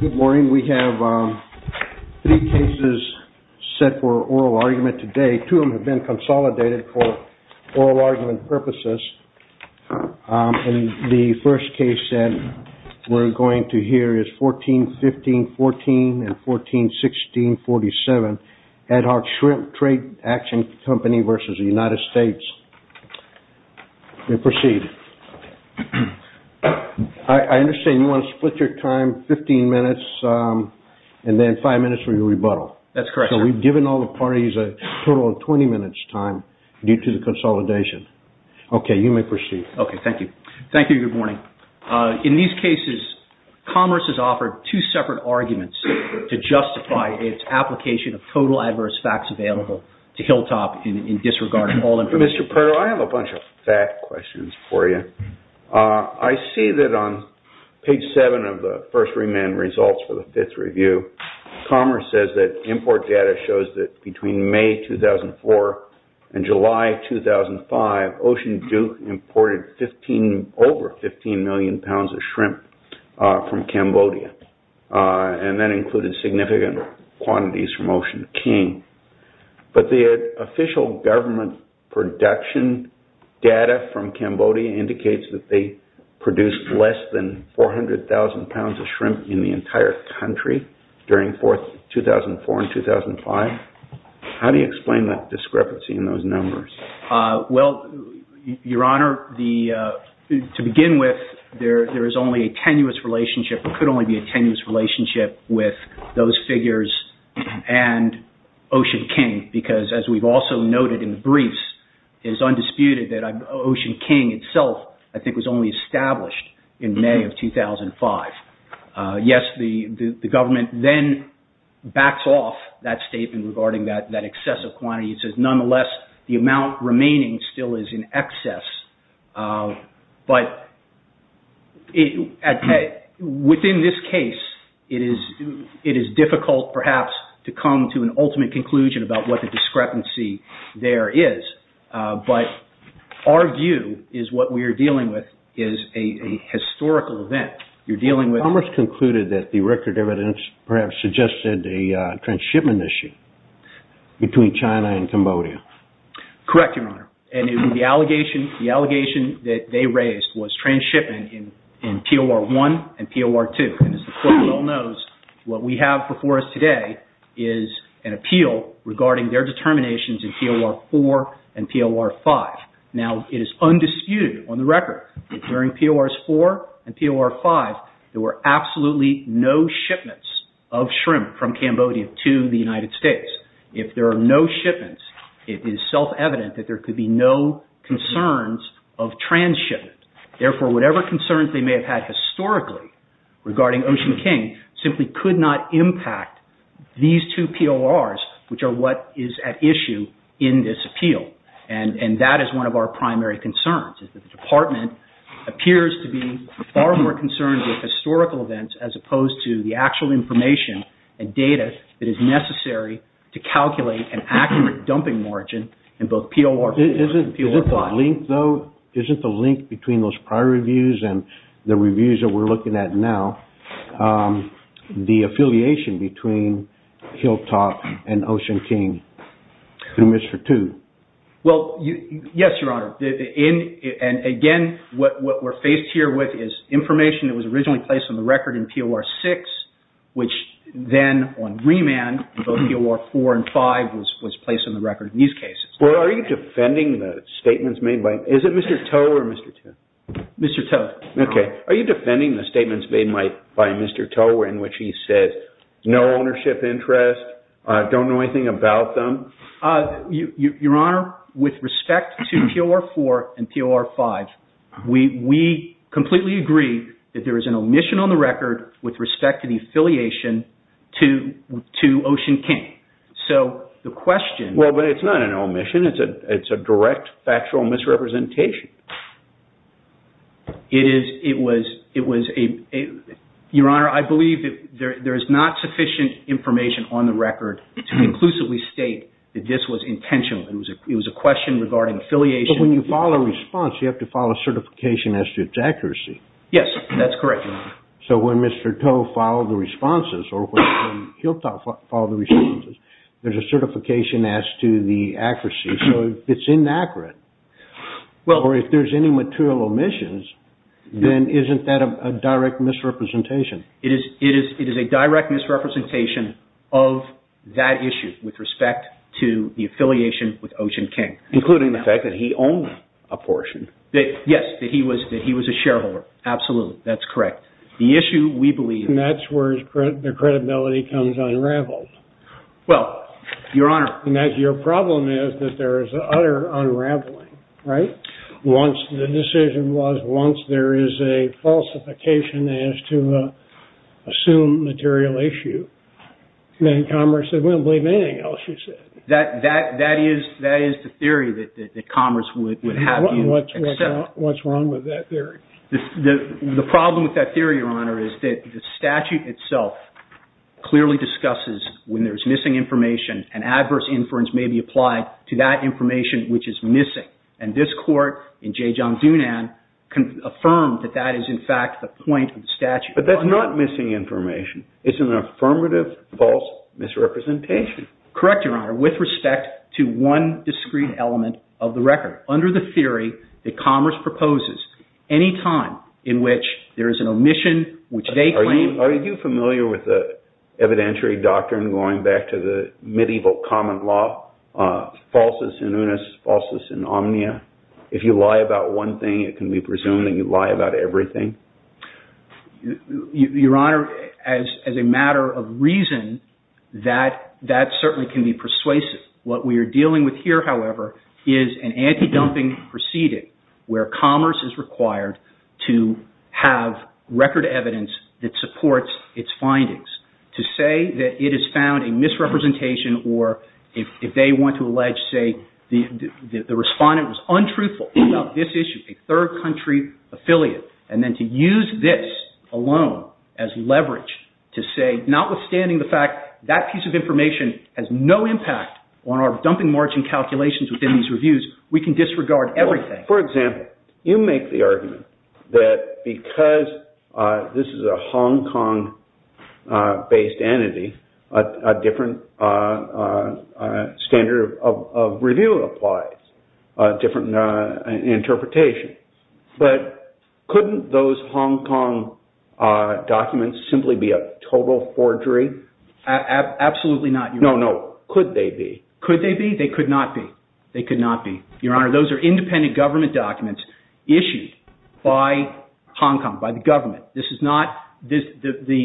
Good morning. We have three cases set for oral argument today. Two of them have been consolidated for oral argument purposes. The first case that we're going to hear is 14-15-14 and 14-16-47, Ad Hoc Shrimp Trade Action Company v. United States. You may proceed. I understand you want to split your time 15 minutes and then five minutes for your rebuttal. That's correct, sir. So we've given all the parties a total of 20 minutes time due to the consolidation. Okay, you may proceed. Okay, thank you. Thank you. Very good morning. In these cases, Commerce has offered two separate arguments to justify its application of total adverse facts available to Hilltop in disregard of all information. Mr. Perl, I have a bunch of fact questions for you. I see that on page 7 of the first remand results for the fifth review, Commerce says that import data shows that between May 2004 and July 2005, Ocean Duke imported over 15 million pounds of shrimp from Cambodia, and that included significant quantities from Ocean King. But the official government production data from Cambodia indicates that they How do you explain that discrepancy in those numbers? Well, Your Honor, to begin with, there is only a tenuous relationship, or could only be a tenuous relationship, with those figures and Ocean King, because as we've also noted in the briefs, it is undisputed that Ocean King itself, I think, was only established in May of 2005. Yes, the government then backs off that statement regarding that excessive quantity. It says, nonetheless, the amount remaining still is in excess. But within this case, it is difficult, perhaps, to come to an ultimate conclusion about what the discrepancy there is. But our view is what we are dealing with is a historical event. You're dealing with... Commerce concluded that the record evidence perhaps suggested a transshipment issue. Between China and Cambodia. Correct, Your Honor. And the allegation that they raised was transshipment in POR1 and POR2. And as the court well knows, what we have before us today is an appeal regarding their determinations in POR4 and POR5. Now, it is undisputed on the case. If there are no shipments, it is self-evident that there could be no concerns of transshipment. Therefore, whatever concerns they may have had historically regarding Ocean King simply could not impact these two PORs, which are what is at issue in this appeal. And that is one of our primary concerns, is that the Department appears to be far more concerned with historical events as opposed to the actual information and data that is necessary to calculate an accurate dumping margin in both POR4 and POR5. Isn't the link between those prior reviews and the reviews that we're looking at now, the affiliation between Hilltop and Ocean King to Mr. Tu? Well, yes, Your Honor. And again, what we're faced here with is information that was originally placed on the record in POR6, which then on remand, both POR4 and POR5 was placed on the record in these cases. Well, are you defending the statements made by – is it Mr. To or Mr. Tu? Mr. To. Okay. Are you defending the statements made by Mr. To in which he says, no ownership interest, don't know anything about them? Your Honor, with respect to POR4 and POR5, we completely agree that there is an omission on the record with respect to the affiliation to Ocean King. So the question – Well, but it's not an omission. It's a direct factual misrepresentation. It is – it was a – Your Honor, I believe that there is not sufficient information on the record to conclusively state that this was intentional. It was a question regarding affiliation. But when you file a response, you have to file a certification as to its accuracy. Yes, that's correct, Your Honor. So when Mr. To filed the responses or when Hilltop filed the responses, there's a certification as to the accuracy. So if it's inaccurate or if there's any material omissions, then isn't that a direct misrepresentation? It is a direct misrepresentation of that issue with respect to the affiliation with Ocean King. Including the fact that he owned a portion. Yes, that he was a shareholder. Absolutely. That's correct. The issue we believe – And that's where the credibility comes unraveled. Well, Your Honor – Your problem is that there is utter unraveling, right? Once the decision was – once there is a falsification as to assumed material issue, then Commerce said we don't believe anything else you said. That is the theory that Commerce would have you accept. What's wrong with that theory? The problem with that theory, Your Honor, is that the statute itself clearly discusses when there's missing information, and adverse inference may be applied to that information which is missing. And this court in J. John Dunan can affirm that that is in fact the point of the statute. But that's not missing information. It's an affirmative false misrepresentation. Correct, Your Honor, with respect to one discrete element of the record. Under the theory that Commerce proposes any time in which there is an omission which they claim – Are you familiar with the evidentiary doctrine going back to the medieval common law? Falsus in unis, falsus in omnia. If you lie about one thing, it can be presumed that you lie about everything. Your Honor, as a matter of reason, that certainly can be persuasive. What we are dealing with here, however, is an anti-dumping proceeding where Commerce is required to have record evidence that supports its findings. To say that it has found a misrepresentation or if they want to allege, say, the respondent was untruthful about this issue, a third country affiliate, and then to use this alone as leverage to say, notwithstanding the fact that piece of information has no impact on our dumping margin calculations within these reviews, we can disregard everything. For example, you make the argument that because this is a Hong Kong-based entity, a different standard of review applies, a different interpretation. But couldn't those Hong Kong documents simply be a total forgery? Absolutely not, Your Honor. No, no. Could they be? Could they be? They could not be. They could not be. Your Honor, those are independent government documents issued by Hong Kong, by the government. The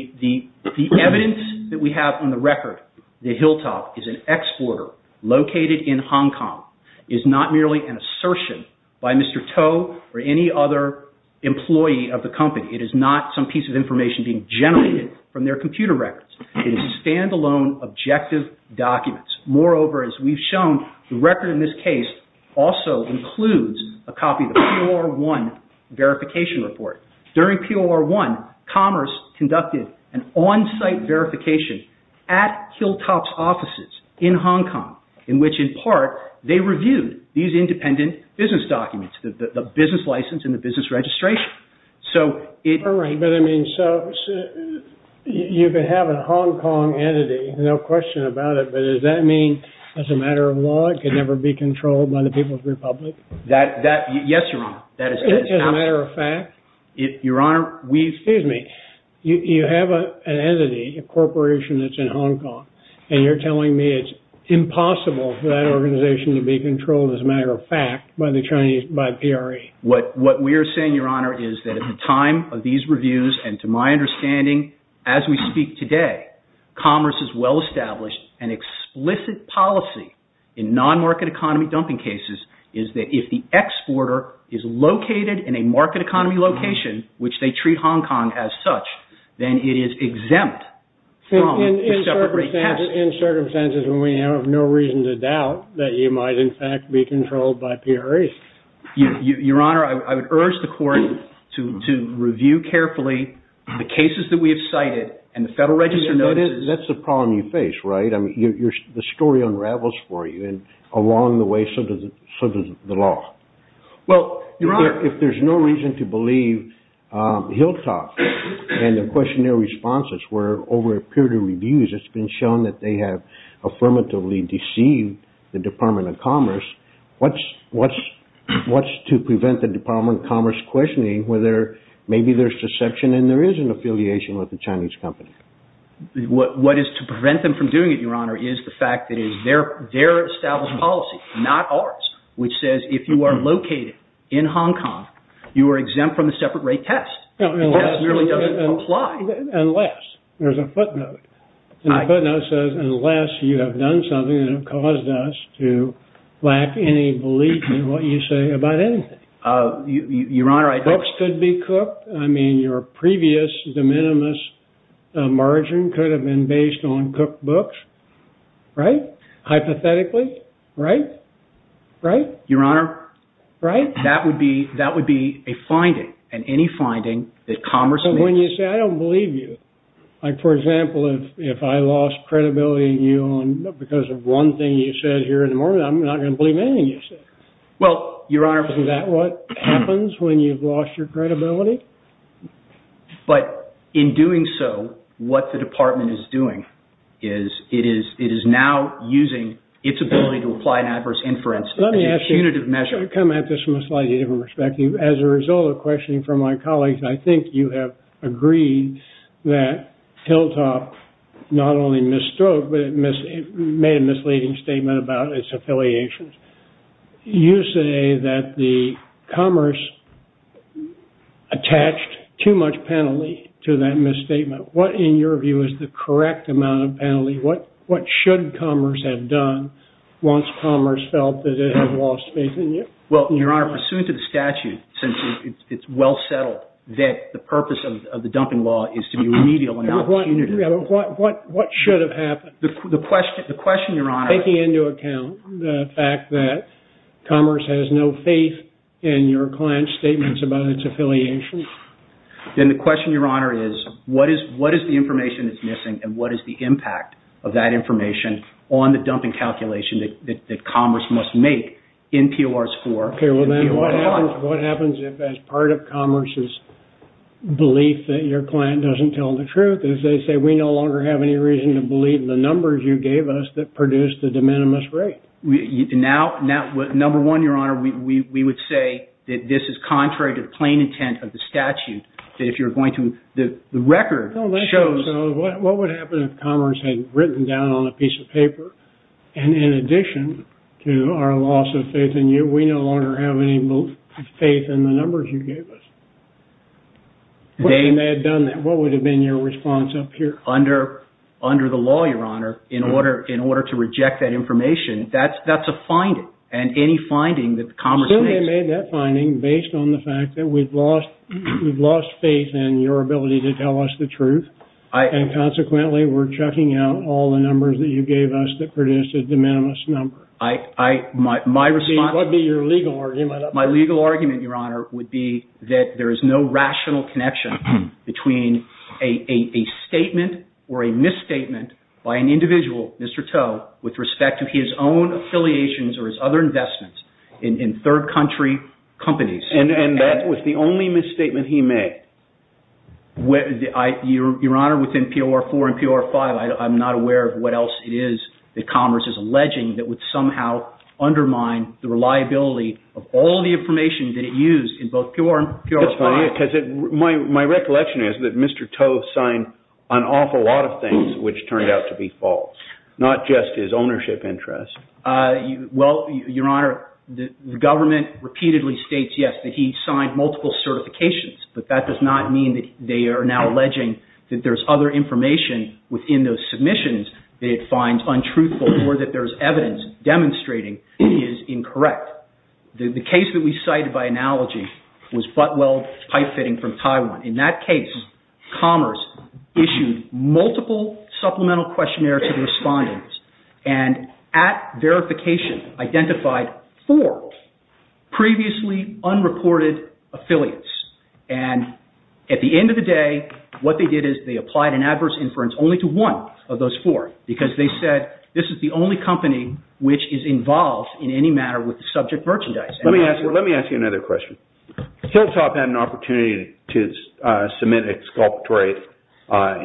evidence that we have on the record, the hilltop is an exporter located in Hong Kong. It is not merely an assertion by Mr. To or any other employee of the company. It is not some piece of information being generated from their computer records. It is standalone objective documents. Moreover, as we've shown, the record in this case also includes a copy of the POR1 verification report. During POR1, Commerce conducted an on-site verification at hilltop's offices in Hong Kong, in which in part they reviewed these independent business documents, the business license and the business registration. All right, but I mean, so you could have a Hong Kong entity, no question about it, but does that mean as a matter of law it could never be controlled by the People's Republic? Yes, Your Honor. As a matter of fact? Your Honor, we... Excuse me. You have an entity, a corporation that's in Hong Kong, and you're telling me it's impossible for that organization to be controlled as a matter of fact by the Chinese, by PRE? What we're saying, Your Honor, is that at the time of these reviews, and to my understanding, as we speak today, Commerce has well established an explicit policy in non-market economy dumping cases, is that if the exporter is located in a market economy location, which they treat Hong Kong as such, then it is exempt from a separate request. In circumstances when we have no reason to doubt that you might in fact be controlled by PRE. Your Honor, I would urge the Court to review carefully the cases that we have cited and the Federal Register notices... That's the problem you face, right? I mean, the story unravels for you, and along the way so does the law. Well, Your Honor... If there's no reason to believe Hilltop and the questionnaire responses where over a period of reviews it's been shown that they have affirmatively deceived the Department of Commerce, what's to prevent the Department of Commerce questioning whether maybe there's deception and there is an affiliation with the Chinese company? What is to prevent them from doing it, Your Honor, is the fact that it is their established policy, not ours, which says if you are located in Hong Kong, you are exempt from the separate rate test. That really doesn't apply. Unless, there's a footnote. The footnote says unless you have done something that has caused us to lack any belief in what you say about anything. Your Honor, I... Books could be cooked. I mean, your previous de minimis margin could have been based on cooked books, right? Hypothetically, right? Right? Your Honor, that would be a finding, and any finding that Commerce makes... But when you say, I don't believe you. Like, for example, if I lost credibility in you because of one thing you said here in the morning, I'm not going to believe anything you say. Well, Your Honor... Isn't that what happens when you've lost your credibility? But in doing so, what the Department is doing is it is now using its ability to apply an adverse inference as a punitive measure. Judge, I come at this from a slightly different perspective. As a result of questioning from my colleagues, I think you have agreed that Hilltop not only misstroke, but made a misleading statement about its affiliations. You say that Commerce attached too much penalty to that misstatement. What, in your view, is the correct amount of penalty? What should Commerce have done once Commerce felt that it had lost faith in you? Well, Your Honor, pursuant to the statute, since it's well settled that the purpose of the dumping law is to be remedial and not punitive... What should have happened? The question, Your Honor... Taking into account the fact that Commerce has no faith in your client's statements about its affiliations? Then the question, Your Honor, is what is the information that's missing, and what is the impact of that information on the dumping calculation that Commerce must make in PORs 4 and PORs 1? What happens if, as part of Commerce's belief that your client doesn't tell the truth, as they say, we no longer have any reason to believe the numbers you gave us that produced the de minimis rate? Number one, Your Honor, we would say that this is contrary to the plain intent of the statute, that if you're going to... The record shows... What would happen if Commerce had written down on a piece of paper, and in addition to our loss of faith in you, we no longer have any faith in the numbers you gave us? What would have been your response up here? Under the law, Your Honor, in order to reject that information, that's a finding, and any finding that Commerce makes... So they made that finding based on the fact that we've lost faith in your ability to tell us the truth, and consequently we're checking out all the numbers that you gave us that produced the de minimis number. My response... What would be your legal argument? My legal argument, Your Honor, would be that there is no rational connection between a statement or a misstatement by an individual, Mr. Toe, with respect to his own affiliations or his other investments in third country companies. And that was the only misstatement he made? Your Honor, within POR4 and POR5, I'm not aware of what else it is that Commerce is alleging that would somehow undermine the reliability of all the information that it used in both POR and POR5. My recollection is that Mr. Toe signed an awful lot of things which turned out to be false, not just his ownership interest. Well, Your Honor, the government repeatedly states, yes, that he signed multiple certifications, but that does not mean that they are now alleging that there's other information within those submissions that it finds untruthful or that there's evidence demonstrating it is incorrect. The case that we cited by analogy was Butwell Pipefitting from Taiwan. In that case, Commerce issued multiple supplemental questionnaires to the respondents and at verification identified four previously unreported affiliates. And at the end of the day, what they did is they applied an adverse inference only to one of those four because they said this is the only company which is involved in any matter with subject merchandise. Let me ask you another question. Hilltop had an opportunity to submit exculpatory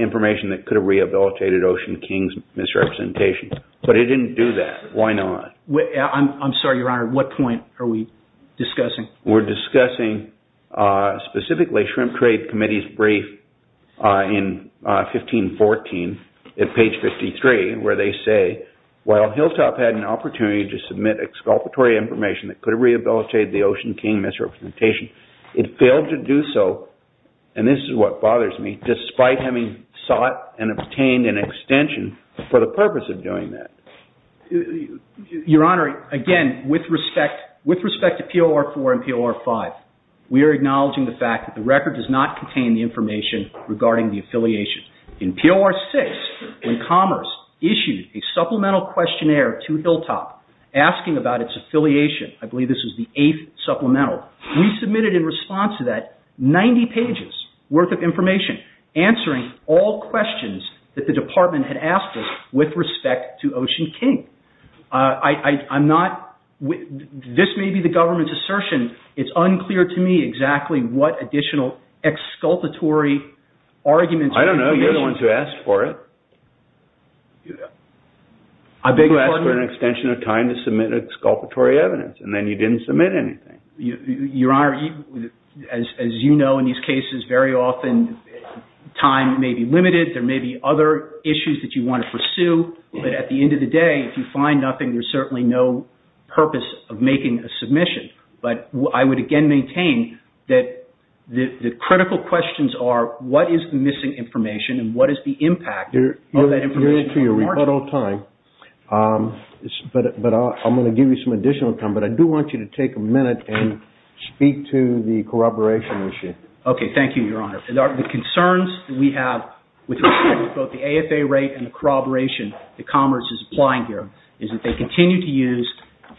information that could have rehabilitated Ocean King's misrepresentation, but it didn't do that. Why not? I'm sorry, Your Honor. What point are we discussing? We're discussing specifically Shrimp Trade Committee's brief in 1514 at page 53 where they say, while Hilltop had an opportunity to submit exculpatory information that could have rehabilitated the Ocean King misrepresentation, it failed to do so, and this is what bothers me, despite having sought and obtained an extension for the purpose of doing that. Your Honor, again, with respect to POR4 and POR5, we are acknowledging the fact that the record does not contain the information regarding the affiliation. In POR6, when Commerce issued a supplemental questionnaire to Hilltop asking about its affiliation, I believe this was the eighth supplemental, we submitted in response to that 90 pages worth of information answering all questions that the department had asked us with respect to Ocean King. This may be the government's assertion. It's unclear to me exactly what additional exculpatory arguments were used. I don't know. You're the one who asked for it. I beg your pardon? You asked for an extension of time to submit exculpatory evidence, and then you didn't submit anything. Your Honor, as you know, in these cases, very often time may be limited. There may be other issues that you want to pursue, but at the end of the day, if you find nothing, there's certainly no purpose of making a submission. But I would again maintain that the critical questions are, what is the missing information, but I'm going to give you some additional time, but I do want you to take a minute and speak to the corroboration issue. Okay. Thank you, Your Honor. The concerns we have with both the AFA rate and the corroboration that Commerce is applying here is that they continue to use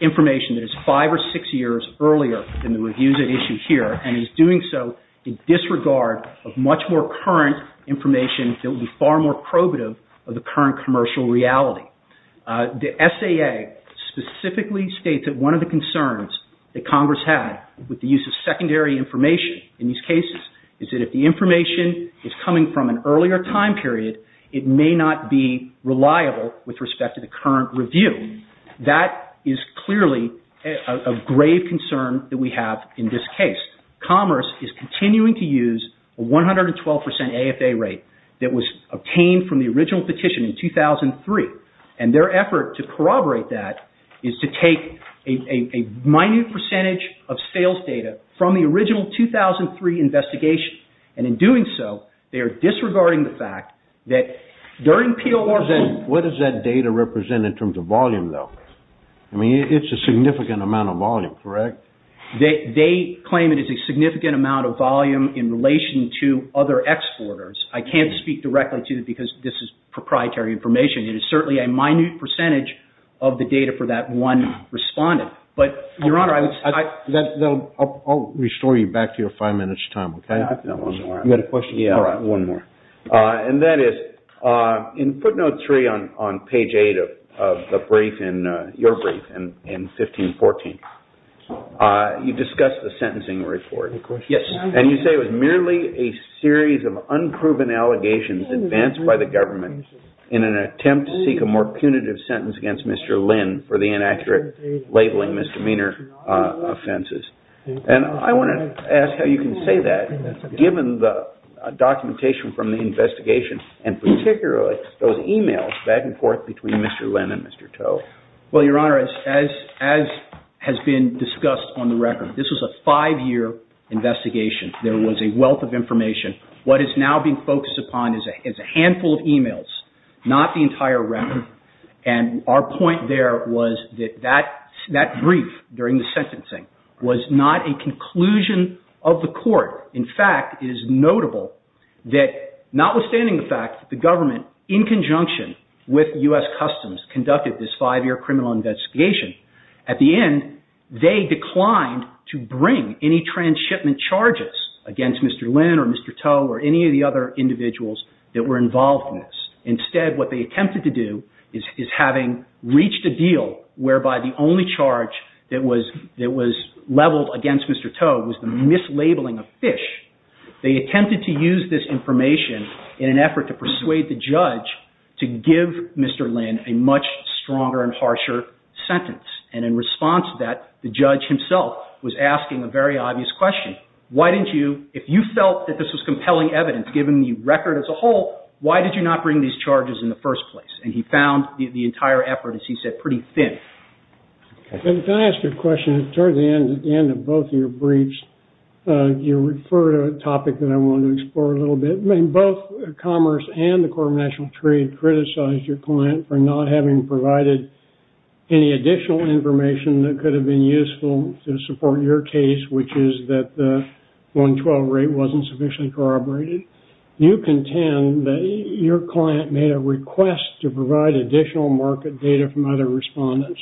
information that is five or six years earlier than the reviews at issue here, and is doing so in disregard of much more current information that would be far more probative of the current commercial reality. The SAA specifically states that one of the concerns that Congress had with the use of secondary information in these cases is that if the information is coming from an earlier time period, it may not be reliable with respect to the current review. That is clearly a grave concern that we have in this case. Commerce is continuing to use a 112% AFA rate that was obtained from the original petition in 2003, and their effort to corroborate that is to take a minute percentage of sales data from the original 2003 investigation, and in doing so, they are disregarding the fact that during P.O.R. What does that data represent in terms of volume, though? I mean, it's a significant amount of volume, correct? They claim it is a significant amount of volume in relation to other exporters. I can't speak directly to it because this is proprietary information. It is certainly a minute percentage of the data for that one respondent. But, Your Honor, I would... I'll restore you back to your five minutes time, okay? I've got one more. You've got a question? Yeah. All right, one more. And that is, in footnote three on page eight of your brief in 1514, you discuss the sentencing report. Yes. And you say it was merely a series of unproven allegations advanced by the government in an attempt to seek a more punitive sentence against Mr. Lynn for the inaccurate labeling misdemeanor offenses. And I want to ask how you can say that, given the documentation from the investigation, and particularly those emails back and forth between Mr. Lynn and Mr. Toe. Well, Your Honor, as has been discussed on the record, this was a five-year investigation. There was a wealth of information. What is now being focused upon is a handful of emails, not the entire record. And our point there was that that brief during the sentencing was not a conclusion of the court. In fact, it is notable that, notwithstanding the fact that the government, in conjunction with U.S. Customs, conducted this five-year criminal investigation, at the end, they declined to bring any transshipment charges against Mr. Lynn or Mr. Toe or any of the other individuals that were involved in this. Instead, what they attempted to do is having reached a deal whereby the only charge that was leveled against Mr. Toe was the mislabeling of fish. They attempted to use this information in an effort to persuade the judge to give Mr. Lynn a much stronger and harsher sentence. And in response to that, the judge himself was asking a very obvious question. If you felt that this was compelling evidence, given the record as a whole, why did you not bring these charges in the first place? And he found the entire effort, as he said, pretty thin. Can I ask you a question? Toward the end of both of your briefs, you refer to a topic that I want to explore a little bit. Both Commerce and the Court of National Trade criticized your client for not having provided any additional information that could have been useful to support your case, which is that the 112 rate wasn't sufficiently corroborated. You contend that your client made a request to provide additional market data from other respondents.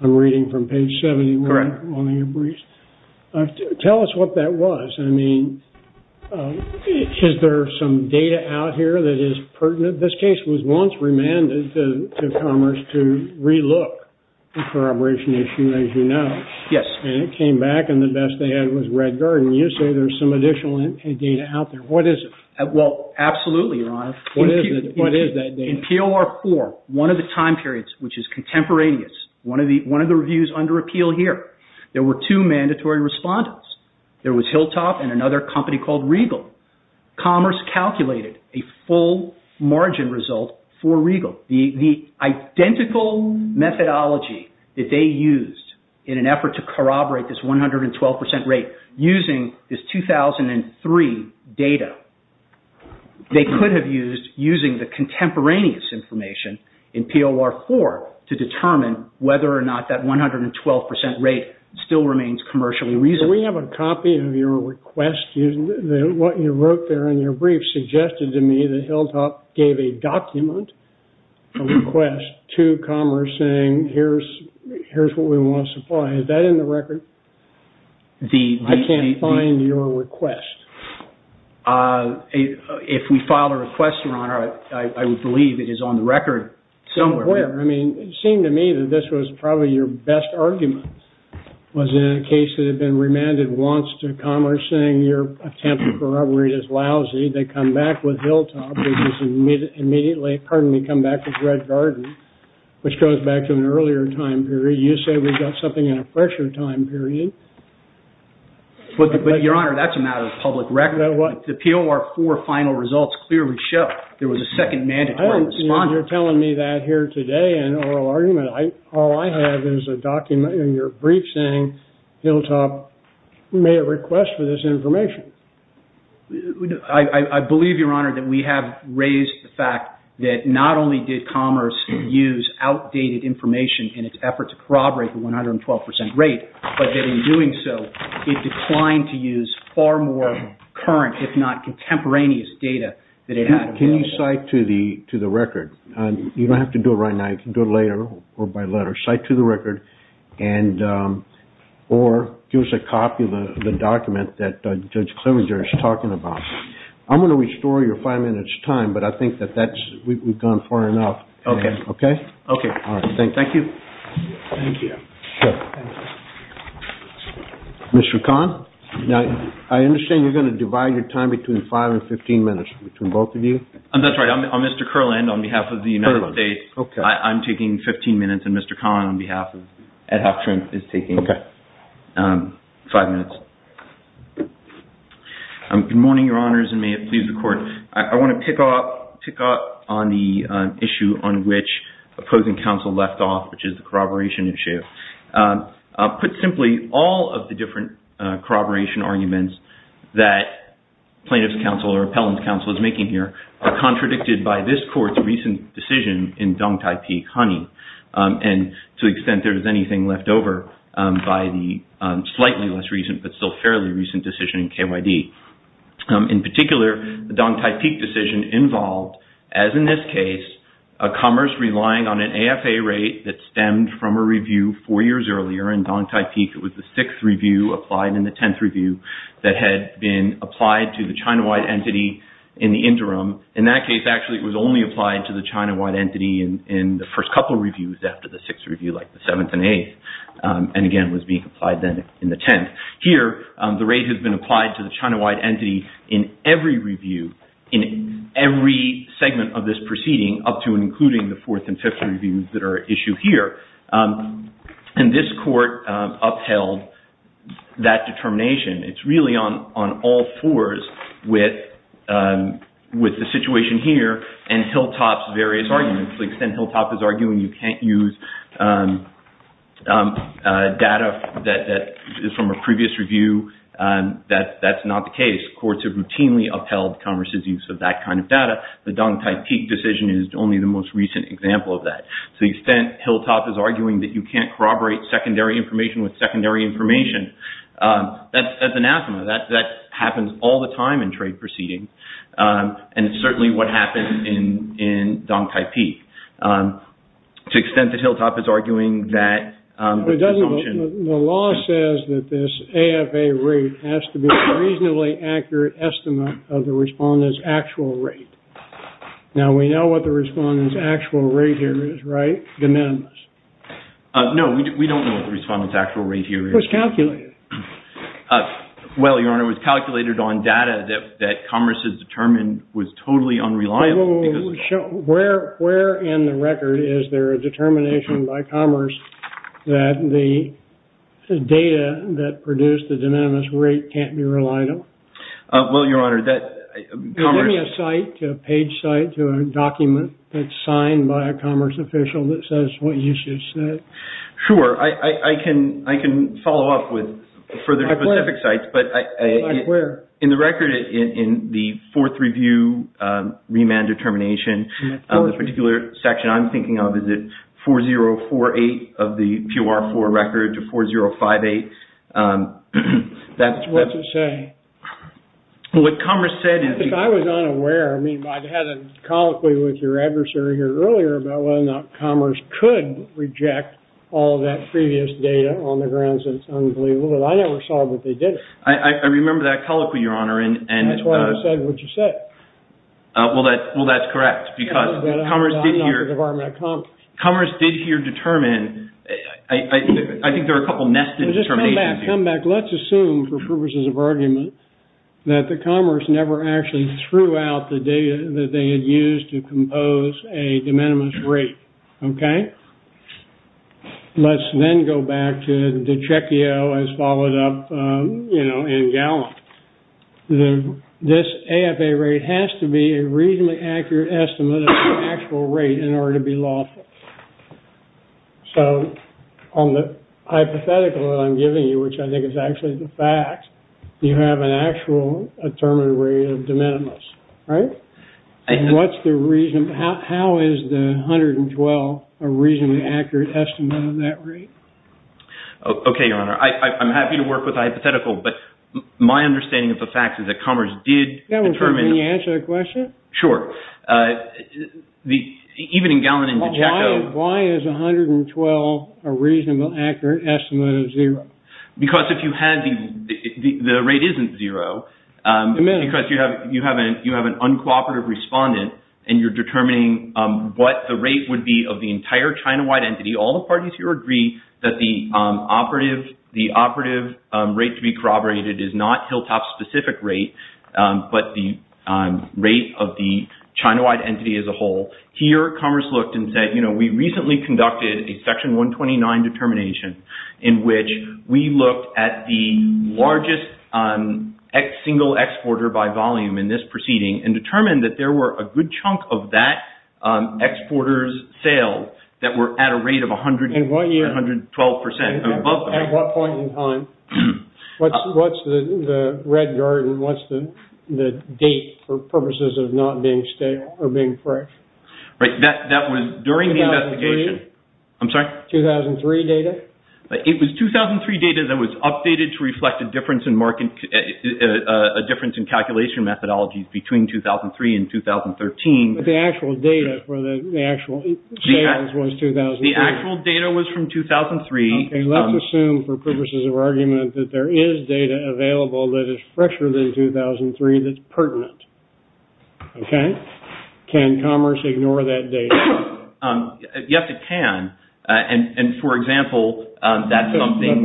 I'm reading from page 71 of your briefs. Correct. Tell us what that was. I mean, is there some data out here that is pertinent? This case was once remanded to Commerce to relook the corroboration issue, as you know. Yes. And it came back, and the best they had was Red Garden. You say there's some additional data out there. What is it? Well, absolutely, Your Honor. What is that data? In POR4, one of the time periods, which is contemporaneous, one of the reviews under appeal here, there were two mandatory respondents. There was Hilltop and another company called Regal. Commerce calculated a full margin result for Regal. The identical methodology that they used in an effort to corroborate this 112% rate, using this 2003 data, they could have used the contemporaneous information in POR4 to determine whether or not that 112% rate still remains commercially reasonable. We have a copy of your request. What you wrote there in your brief suggested to me that Hilltop gave a document, a request, to Commerce saying, here's what we want to supply. Is that in the record? I can't find your request. If we file a request, Your Honor, I would believe it is on the record somewhere. Somewhere. I mean, it seemed to me that this was probably your best argument, was in a case that had been remanded once to Commerce, saying your attempt to corroborate is lousy. They come back with Hilltop, which is immediately, pardon me, come back with Red Garden, which goes back to an earlier time period. You said we got something in a fresher time period. But, Your Honor, that's a matter of public record. The POR4 final results clearly show there was a second mandatory respondent. You're telling me that here today in oral argument. All I have is a document in your brief saying Hilltop made a request for this information. I believe, Your Honor, that we have raised the fact that not only did Commerce use outdated information in its effort to corroborate the 112 percent rate, but that in doing so, it declined to use far more current, if not contemporaneous data than it had available. Can you cite to the record? You don't have to do it right now. You can do it later or by letter. Cite to the record or give us a copy of the document that Judge Clevenger is talking about. I'm going to restore your five minutes' time, but I think that we've gone far enough. Okay. Okay. Thank you. Thank you. Mr. Kahn, I understand you're going to divide your time between five and 15 minutes, between both of you. That's right. I'm Mr. Kurland on behalf of the United States. Okay. I'm taking 15 minutes, and Mr. Kahn on behalf of Ad Hoc Trump is taking five minutes. Good morning, Your Honors, and may it please the Court. I want to pick up on the issue on which opposing counsel left off, which is the corroboration issue. Put simply, all of the different corroboration arguments that plaintiff's counsel or appellant's counsel is making here are contradicted by this Court's recent decision in Dong Tai Pek, Honey, and to the extent there is anything left over by the slightly less recent but still fairly recent decision in KYD. In particular, the Dong Tai Pek decision involved, as in this case, a commerce relying on an AFA rate that stemmed from a review four years earlier in Dong Tai Pek. It was the sixth review applied in the tenth review that had been applied to the China-wide entity in the interim. In that case, actually, it was only applied to the China-wide entity in the first couple reviews after the sixth review, like the seventh and eighth, and again was being applied then in the tenth. Here, the rate has been applied to the China-wide entity in every review, in every segment of this proceeding, up to and including the fourth and fifth reviews that are at issue here. And this Court upheld that determination. It's really on all fours with the situation here and Hilltop's various arguments. To the extent Hilltop is arguing you can't use data that is from a previous review, that's not the case. Courts have routinely upheld commerce's use of that kind of data. The Dong Tai Pek decision is only the most recent example of that. To the extent Hilltop is arguing that you can't corroborate secondary information with secondary information, that's anathema. That happens all the time in trade proceedings, and it's certainly what happened in Dong Tai Pek. To the extent that Hilltop is arguing that... The law says that this AFA rate has to be a reasonably accurate estimate of the respondent's actual rate. Now, we know what the respondent's actual rate here is, right? De minimis. No, we don't know what the respondent's actual rate here is. It was calculated. Well, Your Honor, it was calculated on data that commerce has determined was totally unreliable. Where in the record is there a determination by commerce that the data that produced the de minimis rate can't be reliable? Well, Your Honor, that... Give me a site, a page site, a document that's signed by a commerce official that says what you just said. Sure. I can follow up with further specific sites, but... Like where? In the record in the fourth review remand determination, the particular section I'm thinking of, is it 4048 of the PUR4 record to 4058? What's it say? What commerce said is... I was not aware. I mean, I had a colloquy with your adversary here earlier about whether or not commerce could reject all that previous data on the grounds that it's unbelievable, but I never saw that they did it. I remember that colloquy, Your Honor, and... That's why I said what you said. Well, that's correct, because commerce did here... Commerce did here determine... I think there are a couple nested determinations here. When we come back, let's assume, for purposes of argument, that the commerce never actually threw out the data that they had used to compose a de minimis rate. Okay? Let's then go back to the Checchio, as followed up in Gallup. This AFA rate has to be a reasonably accurate estimate of the actual rate in order to be lawful. So on the hypothetical that I'm giving you, which I think is actually the fact, you have an actual determined rate of de minimis. Right? And what's the reason? How is the 112 a reasonably accurate estimate of that rate? Okay, Your Honor. I'm happy to work with the hypothetical, but my understanding of the facts is that commerce did determine... Can you answer the question? Sure. Even in Gallup and in the Checchio... Why is 112 a reasonably accurate estimate of zero? Because if you had... The rate isn't zero. Because you have an uncooperative respondent and you're determining what the rate would be of the entire China-wide entity. All the parties here agree that the operative rate to be corroborated is not Hilltop's specific rate, but the rate of the China-wide entity as a whole. Here, commerce looked and said, you know, we recently conducted a Section 129 determination in which we looked at the largest single exporter by volume in this proceeding and determined that there were a good chunk of that exporter's sales that were at a rate of 112%. At what point in time? What's the red garden? What's the date for purposes of not being stale or being fresh? That was during the investigation. 2003? I'm sorry? 2003 data? It was 2003 data that was updated to reflect a difference in calculation methodologies between 2003 and 2013. But the actual data for the actual sales was 2003. The actual data was from 2003. Okay. Let's assume for purposes of argument that there is data available that is fresher than 2003 that's pertinent. Okay? Can commerce ignore that data? Yes, it can. And, for example, that's something...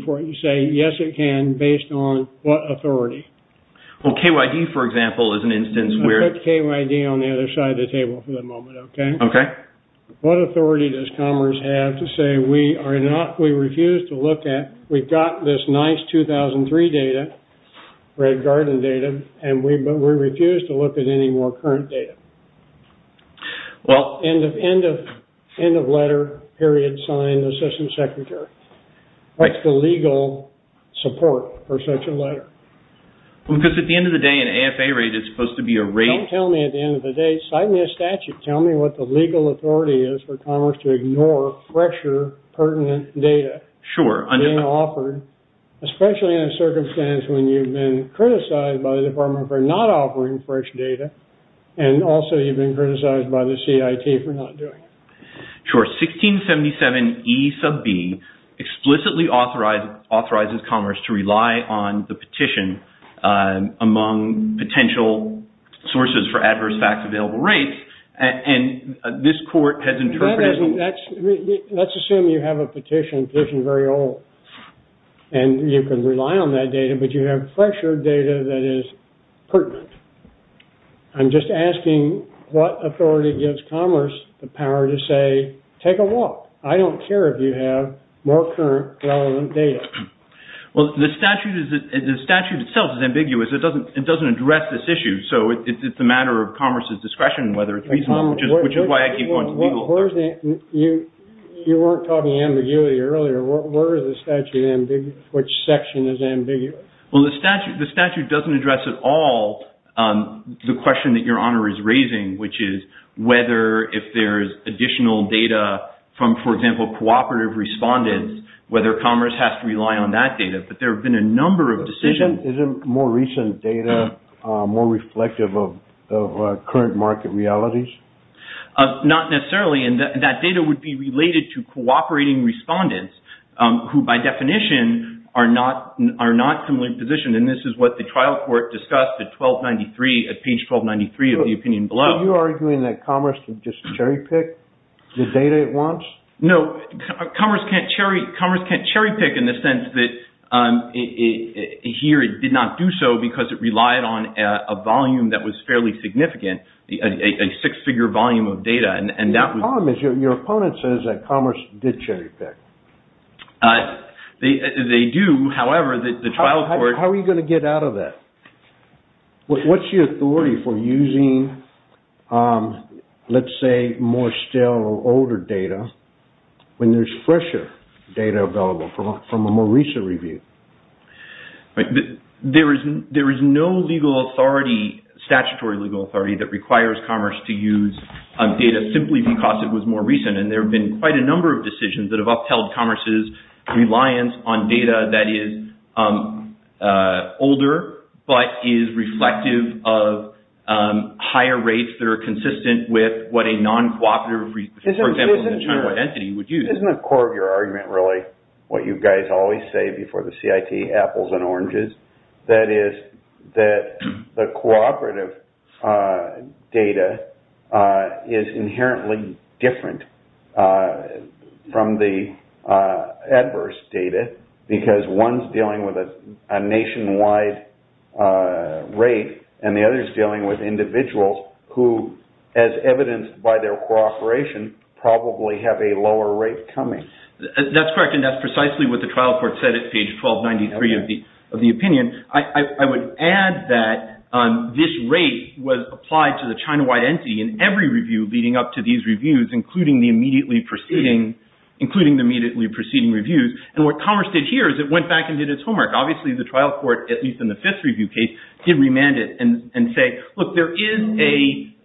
Before you say, yes, it can, based on what authority? Well, KYD, for example, is an instance where... Let's put KYD on the other side of the table for the moment, okay? Okay. What authority does commerce have to say we refuse to look at... We've got this nice 2003 data, red garden data, but we refuse to look at any more current data? Well... End of letter, period, sign, assistant secretary. Right. What's the legal support for such a letter? Because at the end of the day, an AFA rate is supposed to be a rate... Sign me a statute. Tell me what the legal authority is for commerce to ignore fresher pertinent data... Sure. ...being offered, especially in a circumstance when you've been criticized by the Department for not offering fresh data, and also you've been criticized by the CIT for not doing it. Sure. 1677 E sub B explicitly authorizes commerce to rely on the petition among potential sources for adverse facts available rates, and this court has interpreted... Let's assume you have a petition, a petition very old, and you can rely on that data, but you have fresher data that is pertinent. I'm just asking what authority gives commerce the power to say, take a walk, I don't care if you have more current relevant data. Well, the statute itself is ambiguous. It doesn't address this issue, so it's a matter of commerce's discretion whether it's reasonable, which is why I keep going to the legal authority. You weren't talking ambiguity earlier. Where is the statute ambiguous? Which section is ambiguous? Well, the statute doesn't address at all the question that Your Honor is raising, which is whether if there is additional data from, for example, cooperative respondents, whether commerce has to rely on that data, but there have been a number of decisions... Isn't more recent data more reflective of current market realities? Not necessarily, and that data would be related to cooperating respondents who, by definition, are not similarly positioned, and this is what the trial court discussed at page 1293 of the opinion below. So you're arguing that commerce can just cherry-pick the data it wants? No, commerce can't cherry-pick in the sense that here it did not do so because it relied on a volume that was fairly significant, a six-figure volume of data. The problem is your opponent says that commerce did cherry-pick. They do, however, the trial court... How are you going to get out of that? What's your authority for using, let's say, more stale or older data when there's fresher data available from a more recent review? There is no statutory legal authority that requires commerce to use data simply because it was more recent, and there have been quite a number of decisions that have upheld commerce's reliance on data that is older but is reflective of higher rates that are consistent with what a non-cooperative, for example, China entity would use. This isn't the core of your argument, really, what you guys always say before the CIT apples and oranges, that is that the cooperative data is inherently different from the adverse data because one is dealing with a nationwide rate and the other is dealing with individuals who, as evidenced by their cooperation, probably have a lower rate coming. That's correct, and that's precisely what the trial court said at page 1293 of the opinion. I would add that this rate was applied to the China-wide entity in every review leading up to these reviews, including the immediately preceding reviews, and what commerce did here is it went back and did its homework. Obviously, the trial court, at least in the fifth review case, did remand it and say, The reason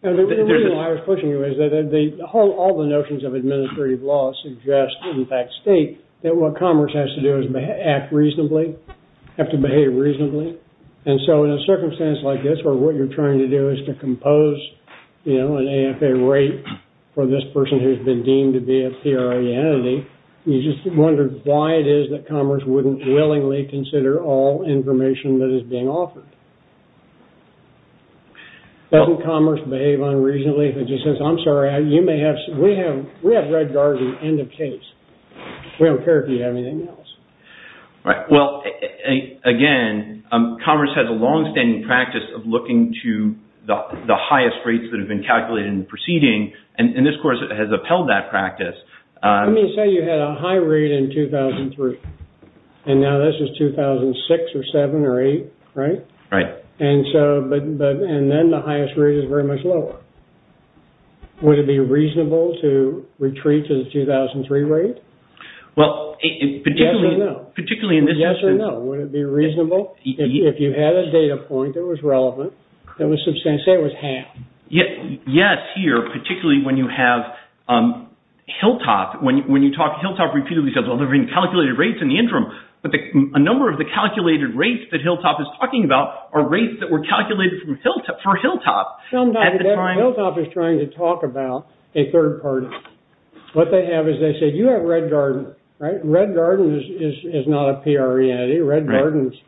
why I was pushing you is that all the notions of administrative law suggest, in fact state, that what commerce has to do is act reasonably, have to behave reasonably, and so in a circumstance like this where what you're trying to do is to compose an AFA rate for this person who's been deemed to be a theory entity, you just wonder why it is that commerce wouldn't willingly consider all information that is being offered. Doesn't commerce behave unreasonably if it just says, I'm sorry, we have red guards at the end of case. We don't care if you have anything else. Well, again, commerce has a long-standing practice of looking to the highest rates that have been calculated in the proceeding, and this course has upheld that practice. Let me say you had a high rate in 2003, and now this is 2006 or 2007 or 2008, right? Right. And then the highest rate is very much lower. Would it be reasonable to retreat to the 2003 rate? Well, particularly in this instance. Yes or no, would it be reasonable? If you had a data point that was relevant, say it was half. Yes, here, particularly when you have Hilltop. When you talk, Hilltop repeatedly says, well, there have been calculated rates in the interim, but a number of the calculated rates that Hilltop is talking about are rates that were calculated for Hilltop. Sometimes Hilltop is trying to talk about a third party. What they have is they say, you have red guard, right? Red guard is not a PR entity. Red guard is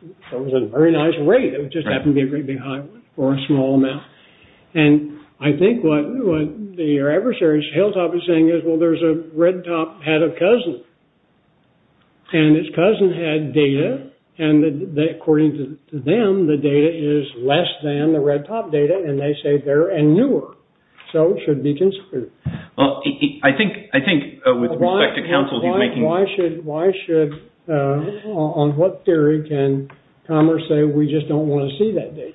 a very nice rate. It would just happen to be a great big high or a small amount. And I think what your adversary, Hilltop, is saying is, well, there's a red top head of Cousin. And his cousin had data, and according to them, the data is less than the red top data, and they say they're newer. So it should be considered. Well, I think with respect to counsel, he's making... Why should, on what theory can Commerce say, we just don't want to see that data?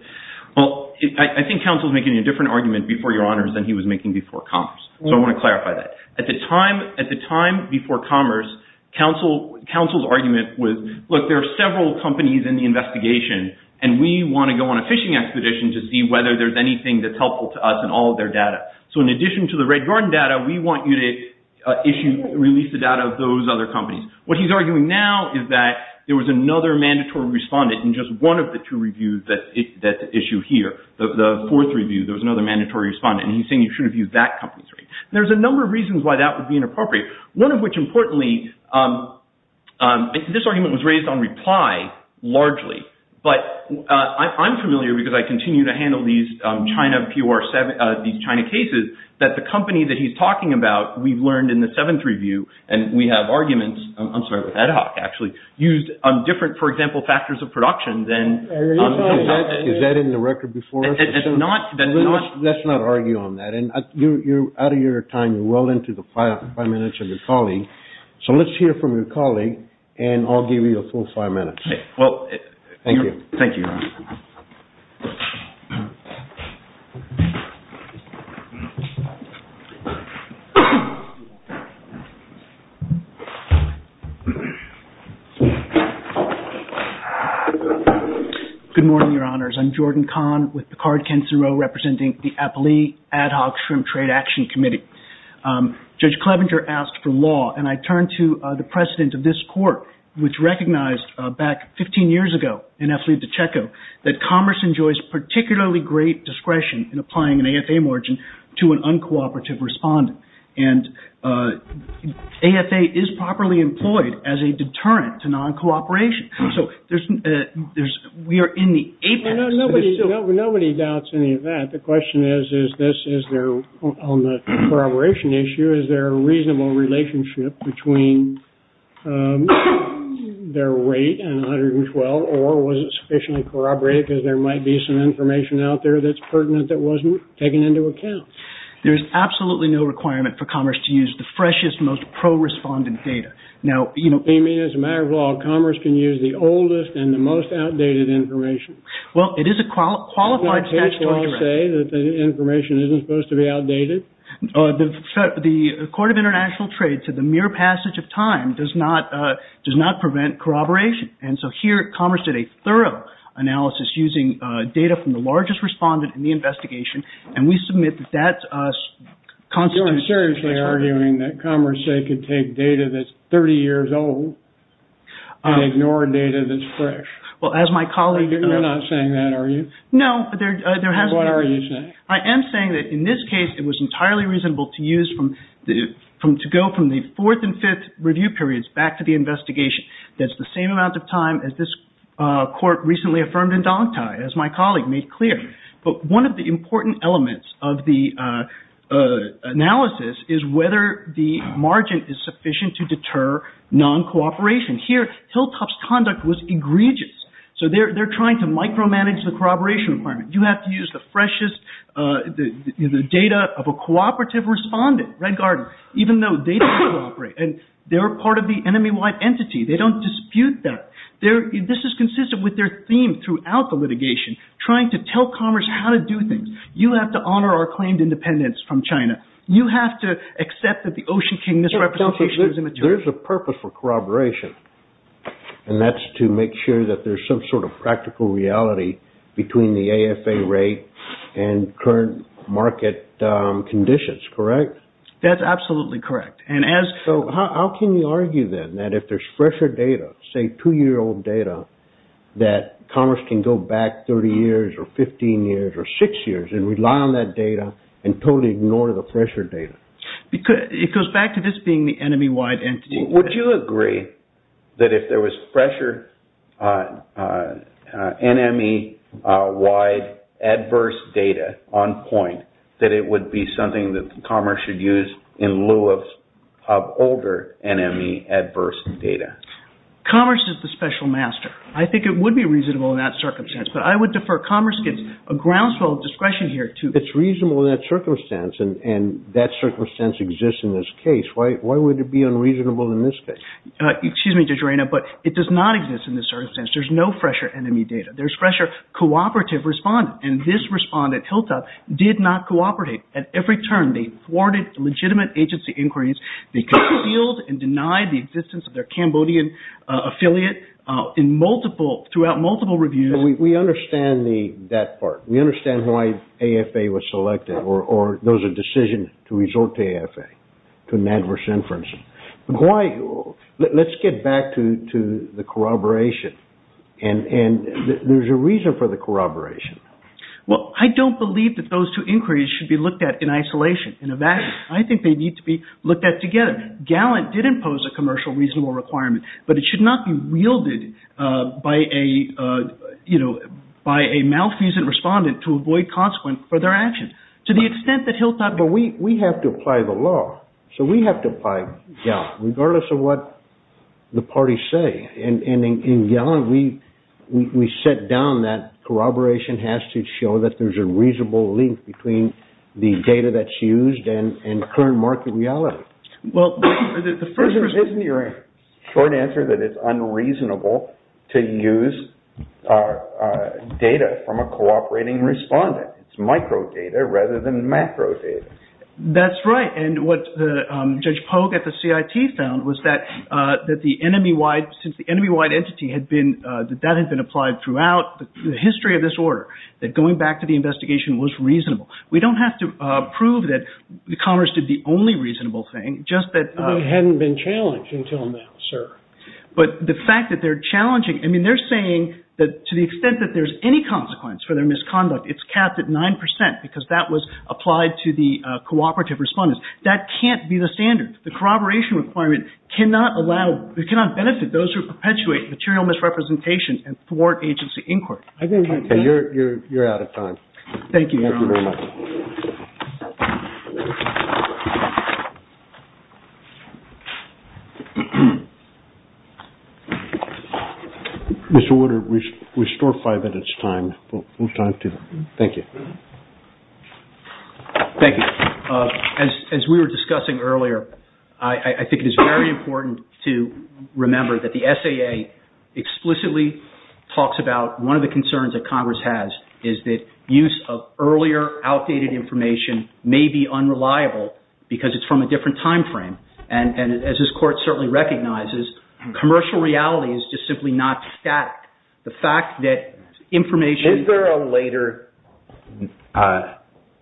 Well, I think counsel is making a different argument before your honors than he was making before Commerce. So I want to clarify that. At the time before Commerce, counsel's argument was, look, there are several companies in the investigation, and we want to go on a fishing expedition to see whether there's anything that's helpful to us in all of their data. So in addition to the red guard data, we want you to release the data of those other companies. What he's arguing now is that there was another mandatory respondent in just one of the two reviews that issue here. The fourth review, there was another mandatory respondent, and he's saying you should have used that company's rate. There's a number of reasons why that would be inappropriate, one of which, importantly, this argument was raised on reply, largely. But I'm familiar, because I continue to handle these China cases, that the company that he's talking about, we've learned in the seventh review, and we have arguments, I'm sorry, with Ad Hoc, actually, used different, for example, factors of production than... Is that in the record before us? Let's not argue on that. You're out of your time. You're well into the five minutes of your colleague. So let's hear from your colleague, and I'll give you your full five minutes. Thank you. Thank you, Your Honor. Good morning, Your Honors. I'm Jordan Kahn, with Picard-Kent and Rowe, representing the Appellee Ad Hoc Extreme Trade Action Committee. Judge Clevenger asked for law, and I turn to the precedent of this court, which recognized back 15 years ago, in Eflit de Checo, that commerce enjoys particularly great discretion in applying an AFA margin to an uncooperative respondent. And AFA is properly employed as a deterrent to non-cooperation. So we are in the apex... Nobody doubts any of that. The question is, on the corroboration issue, is there a reasonable relationship between their rate and 112, or was it sufficiently corroborated, because there might be some information out there that's pertinent that wasn't taken into account? There's absolutely no requirement for commerce to use the freshest, most pro-respondent data. You mean, as a matter of law, commerce can use the oldest and the most outdated information? Well, it is a qualified statutory... Isn't that hateful to say that the information isn't supposed to be outdated? The Court of International Trade said the mere passage of time does not prevent corroboration. And so here, commerce did a thorough analysis using data from the largest respondent in the investigation, and we submit that that's a... You're seriously arguing that commerce could take data that's 30 years old and ignore data that's fresh? Well, as my colleague... You're not saying that, are you? No, there has been... Then what are you saying? I am saying that, in this case, it was entirely reasonable to use from... to go from the fourth and fifth review periods back to the investigation. That's the same amount of time as this Court recently affirmed in Dong Tai, as my colleague made clear. But one of the important elements of the analysis is whether the margin is sufficient to deter non-cooperation. Here, Hilltop's conduct was egregious. So they're trying to micromanage the corroboration requirement. You have to use the freshest... the data of a cooperative respondent, Red Garden, even though they don't cooperate, and they're part of the enemy-wide entity. They don't dispute that. This is consistent with their theme throughout the litigation, trying to tell commerce how to do things. You have to honour our claimed independence from China. You have to accept that the Ocean King misrepresentation is immature. There's a purpose for corroboration, and that's to make sure that there's some sort of practical reality between the AFA rate and current market conditions, correct? That's absolutely correct. And as... So how can you argue, then, that if there's fresher data, say, two-year-old data, that commerce can go back 30 years or 15 years or six years and rely on that data and totally ignore the fresher data? It goes back to this being the enemy-wide entity. Would you agree that if there was fresher NME-wide adverse data on point, that it would be something that commerce should use in lieu of older NME adverse data? Commerce is the special master. I think it would be reasonable in that circumstance, but I would defer. Commerce gives a groundswell of discretion here to... It's reasonable in that circumstance, and that circumstance exists in this case. Why would it be unreasonable in this case? Excuse me, Judge Reina, but it does not exist in this circumstance. There's no fresher NME data. There's fresher cooperative respondent, and this respondent, HILTA, did not cooperate. At every turn, they thwarted legitimate agency inquiries. They concealed and denied the existence of their Cambodian affiliate throughout multiple reviews. We understand that part. We understand why AFA was selected, or there was a decision to resort to AFA to an adverse inference. Let's get back to the corroboration, and there's a reason for the corroboration. I don't believe that those two inquiries should be looked at in isolation, in a vacuum. I think they need to be looked at together. Gallant did impose a commercial reasonable requirement, but it should not be wielded by a malfeasant respondent to avoid consequence for their actions. To the extent that HILTA... But we have to apply the law, so we have to apply Gallant, regardless of what the parties say, and in Gallant, we set down that corroboration has to show that there's a reasonable link between the data that's used and current market reality. Isn't your short answer that it's unreasonable to use data from a cooperating respondent? It's microdata rather than macrodata. That's right, and what Judge Pogue at the CIT found was that since the enemy-wide entity had been... that that had been applied throughout the history of this order, that going back to the investigation was reasonable. We don't have to prove that Commerce did the only reasonable thing, just that... It hadn't been challenged until now, sir. But the fact that they're challenging... I mean, they're saying that to the extent that there's any consequence for their misconduct, it's capped at 9% because that was applied to the cooperative respondents. That can't be the standard. The corroboration requirement cannot benefit those who perpetuate material misrepresentation and thwart agency inquiry. Okay, you're out of time. Thank you, Your Honor. Thank you very much. Mr. Woodard, we store five minutes' time. We'll try to... Thank you. Thank you. As we were discussing earlier, I think it is very important to remember that the SAA explicitly talks about one of the concerns that Congress has is that use of earlier, outdated information may be unreliable because it's from a different time frame. And as this Court certainly recognizes, commercial reality is just simply not static. The fact that information... Is there a later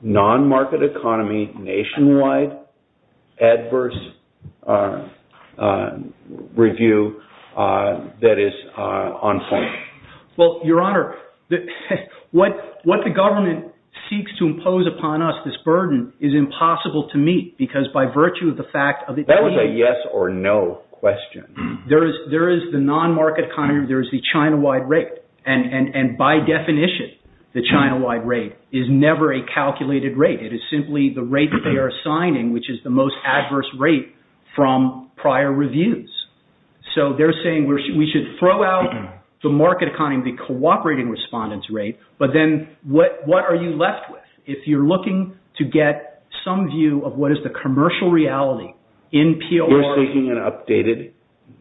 non-market economy nationwide adverse review that is on point? Well, Your Honor, what the government seeks to impose upon us, this burden, is impossible to meet because by virtue of the fact... That was a yes or no question. There is the non-market economy. There is the China-wide rate. And by definition, the China-wide rate is never a calculated rate. It is simply the rate that they are assigning which is the most adverse rate from prior reviews. So they're saying we should throw out the market economy, the cooperating respondents rate, but then what are you left with if you're looking to get some view of what is the commercial reality in PR... You're seeking an updated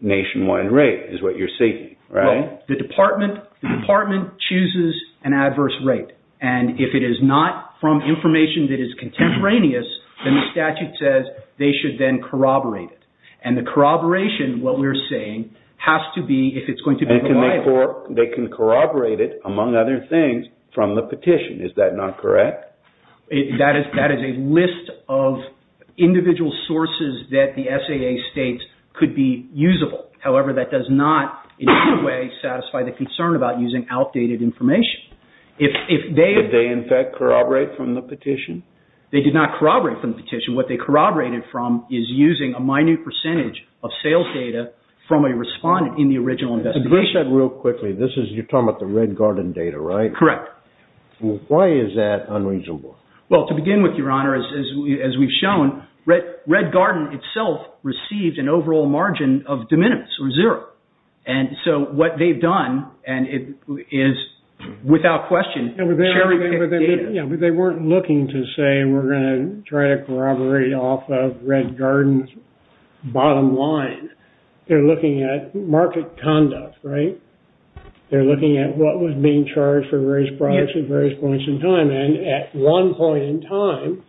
nationwide rate is what you're seeking, right? Well, the department chooses an adverse rate. And if it is not from information that is contemporaneous, then the statute says they should then corroborate it. And the corroboration, what we're saying, has to be, if it's going to be reliable... They can corroborate it, among other things, from the petition. Is that not correct? That is a list of individual sources that the SAA states could be usable. However, that does not in any way satisfy the concern about using outdated information. If they... Did they, in fact, corroborate from the petition? They did not corroborate from the petition. What they corroborated from is using a minute percentage of sales data from a respondent in the original investigation. Let me say that real quickly. You're talking about the Red Garden data, right? Correct. Why is that unreasonable? Well, to begin with, Your Honor, as we've shown, Red Garden itself received an overall margin of de minimis, or zero. And so, what they've done, and it is, without question, sharing the data. Yeah, but they weren't looking to say, we're going to try to corroborate off of Red Garden's bottom line. They're looking at market conduct, right? They're looking at what was being charged for various products at various points in time. And at one point in time,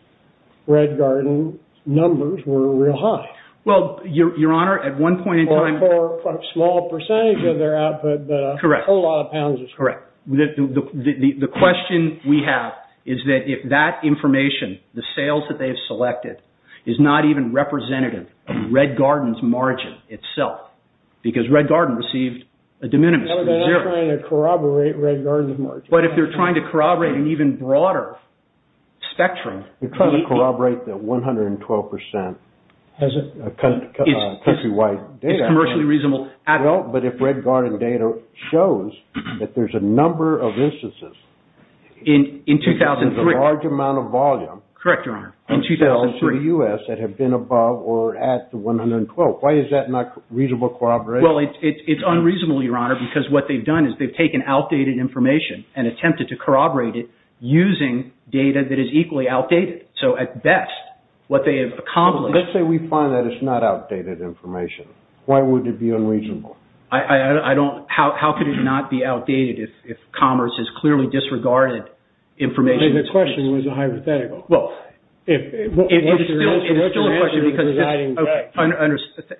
Red Garden numbers were real high. Well, Your Honor, at one point in time... For a small percentage of their output, a whole lot of pounds was charged. Correct. The question we have is that if that information, the sales that they've selected, is not even representative of Red Garden's margin itself, because Red Garden received a de minimis. They're not trying to corroborate Red Garden's margin. But if they're trying to corroborate an even broader spectrum, they're trying to corroborate the 112% countrywide data. It's commercially reasonable. Well, but if Red Garden data shows that there's a number of instances... In 2003. There's a large amount of volume... Correct, Your Honor. ...of sales in the U.S. that have been above or at the 112. Why is that not reasonable corroboration? Well, it's unreasonable, Your Honor, because what they've done is they've taken outdated information and attempted to corroborate it using data that is equally outdated. So, at best, what they have accomplished... Let's say we find that it's not outdated information. Why would it be unreasonable? I don't... How could it not be outdated if commerce has clearly disregarded information... The question was a hypothetical. Well... If... It's still a question because... What's your answer to the presiding judge?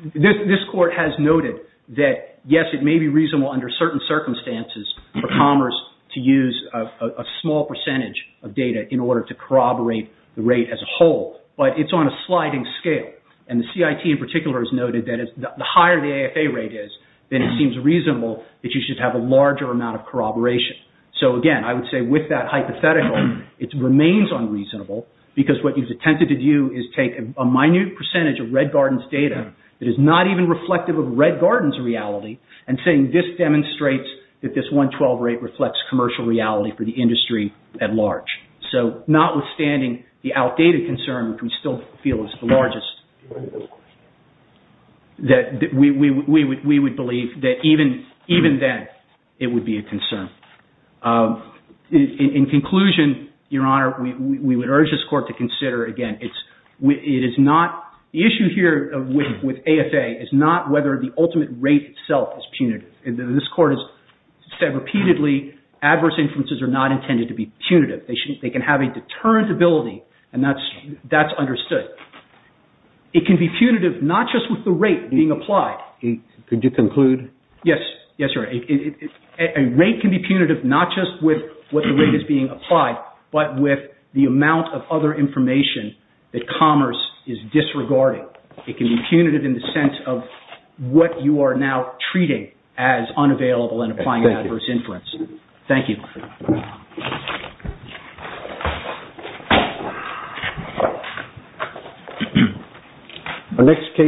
I understand. This Court has noted that, yes, it may be reasonable under certain circumstances for commerce to use a small percentage of data in order to corroborate the rate as a whole, but it's on a sliding scale. And the CIT in particular has noted that the higher the AFA rate is, then it seems reasonable that you should have a larger amount of corroboration. So, again, I would say with that hypothetical, it remains unreasonable because what he's attempted to do is take a minute percentage of Red Garden's data that is not even reflective of Red Garden's reality and saying, this demonstrates that this 112 rate reflects commercial reality for the industry at large. So, notwithstanding the outdated concern, which we still feel is the largest, that we would believe that even then it would be a concern. In conclusion, Your Honor, we would urge this Court to consider, again, it is not... The issue here with AFA is not whether the ultimate rate itself is punitive. This Court has said repeatedly adverse inferences are not intended to be punitive. They can have a deterrent ability and that's understood. It can be punitive not just with the rate being applied. Could you conclude? Yes, Your Honor. A rate can be punitive not just with what the rate is being applied but with the amount of other information that commerce is disregarding. It can be punitive in the sense of what you are now treating as unavailable in applying adverse inference. Thank you.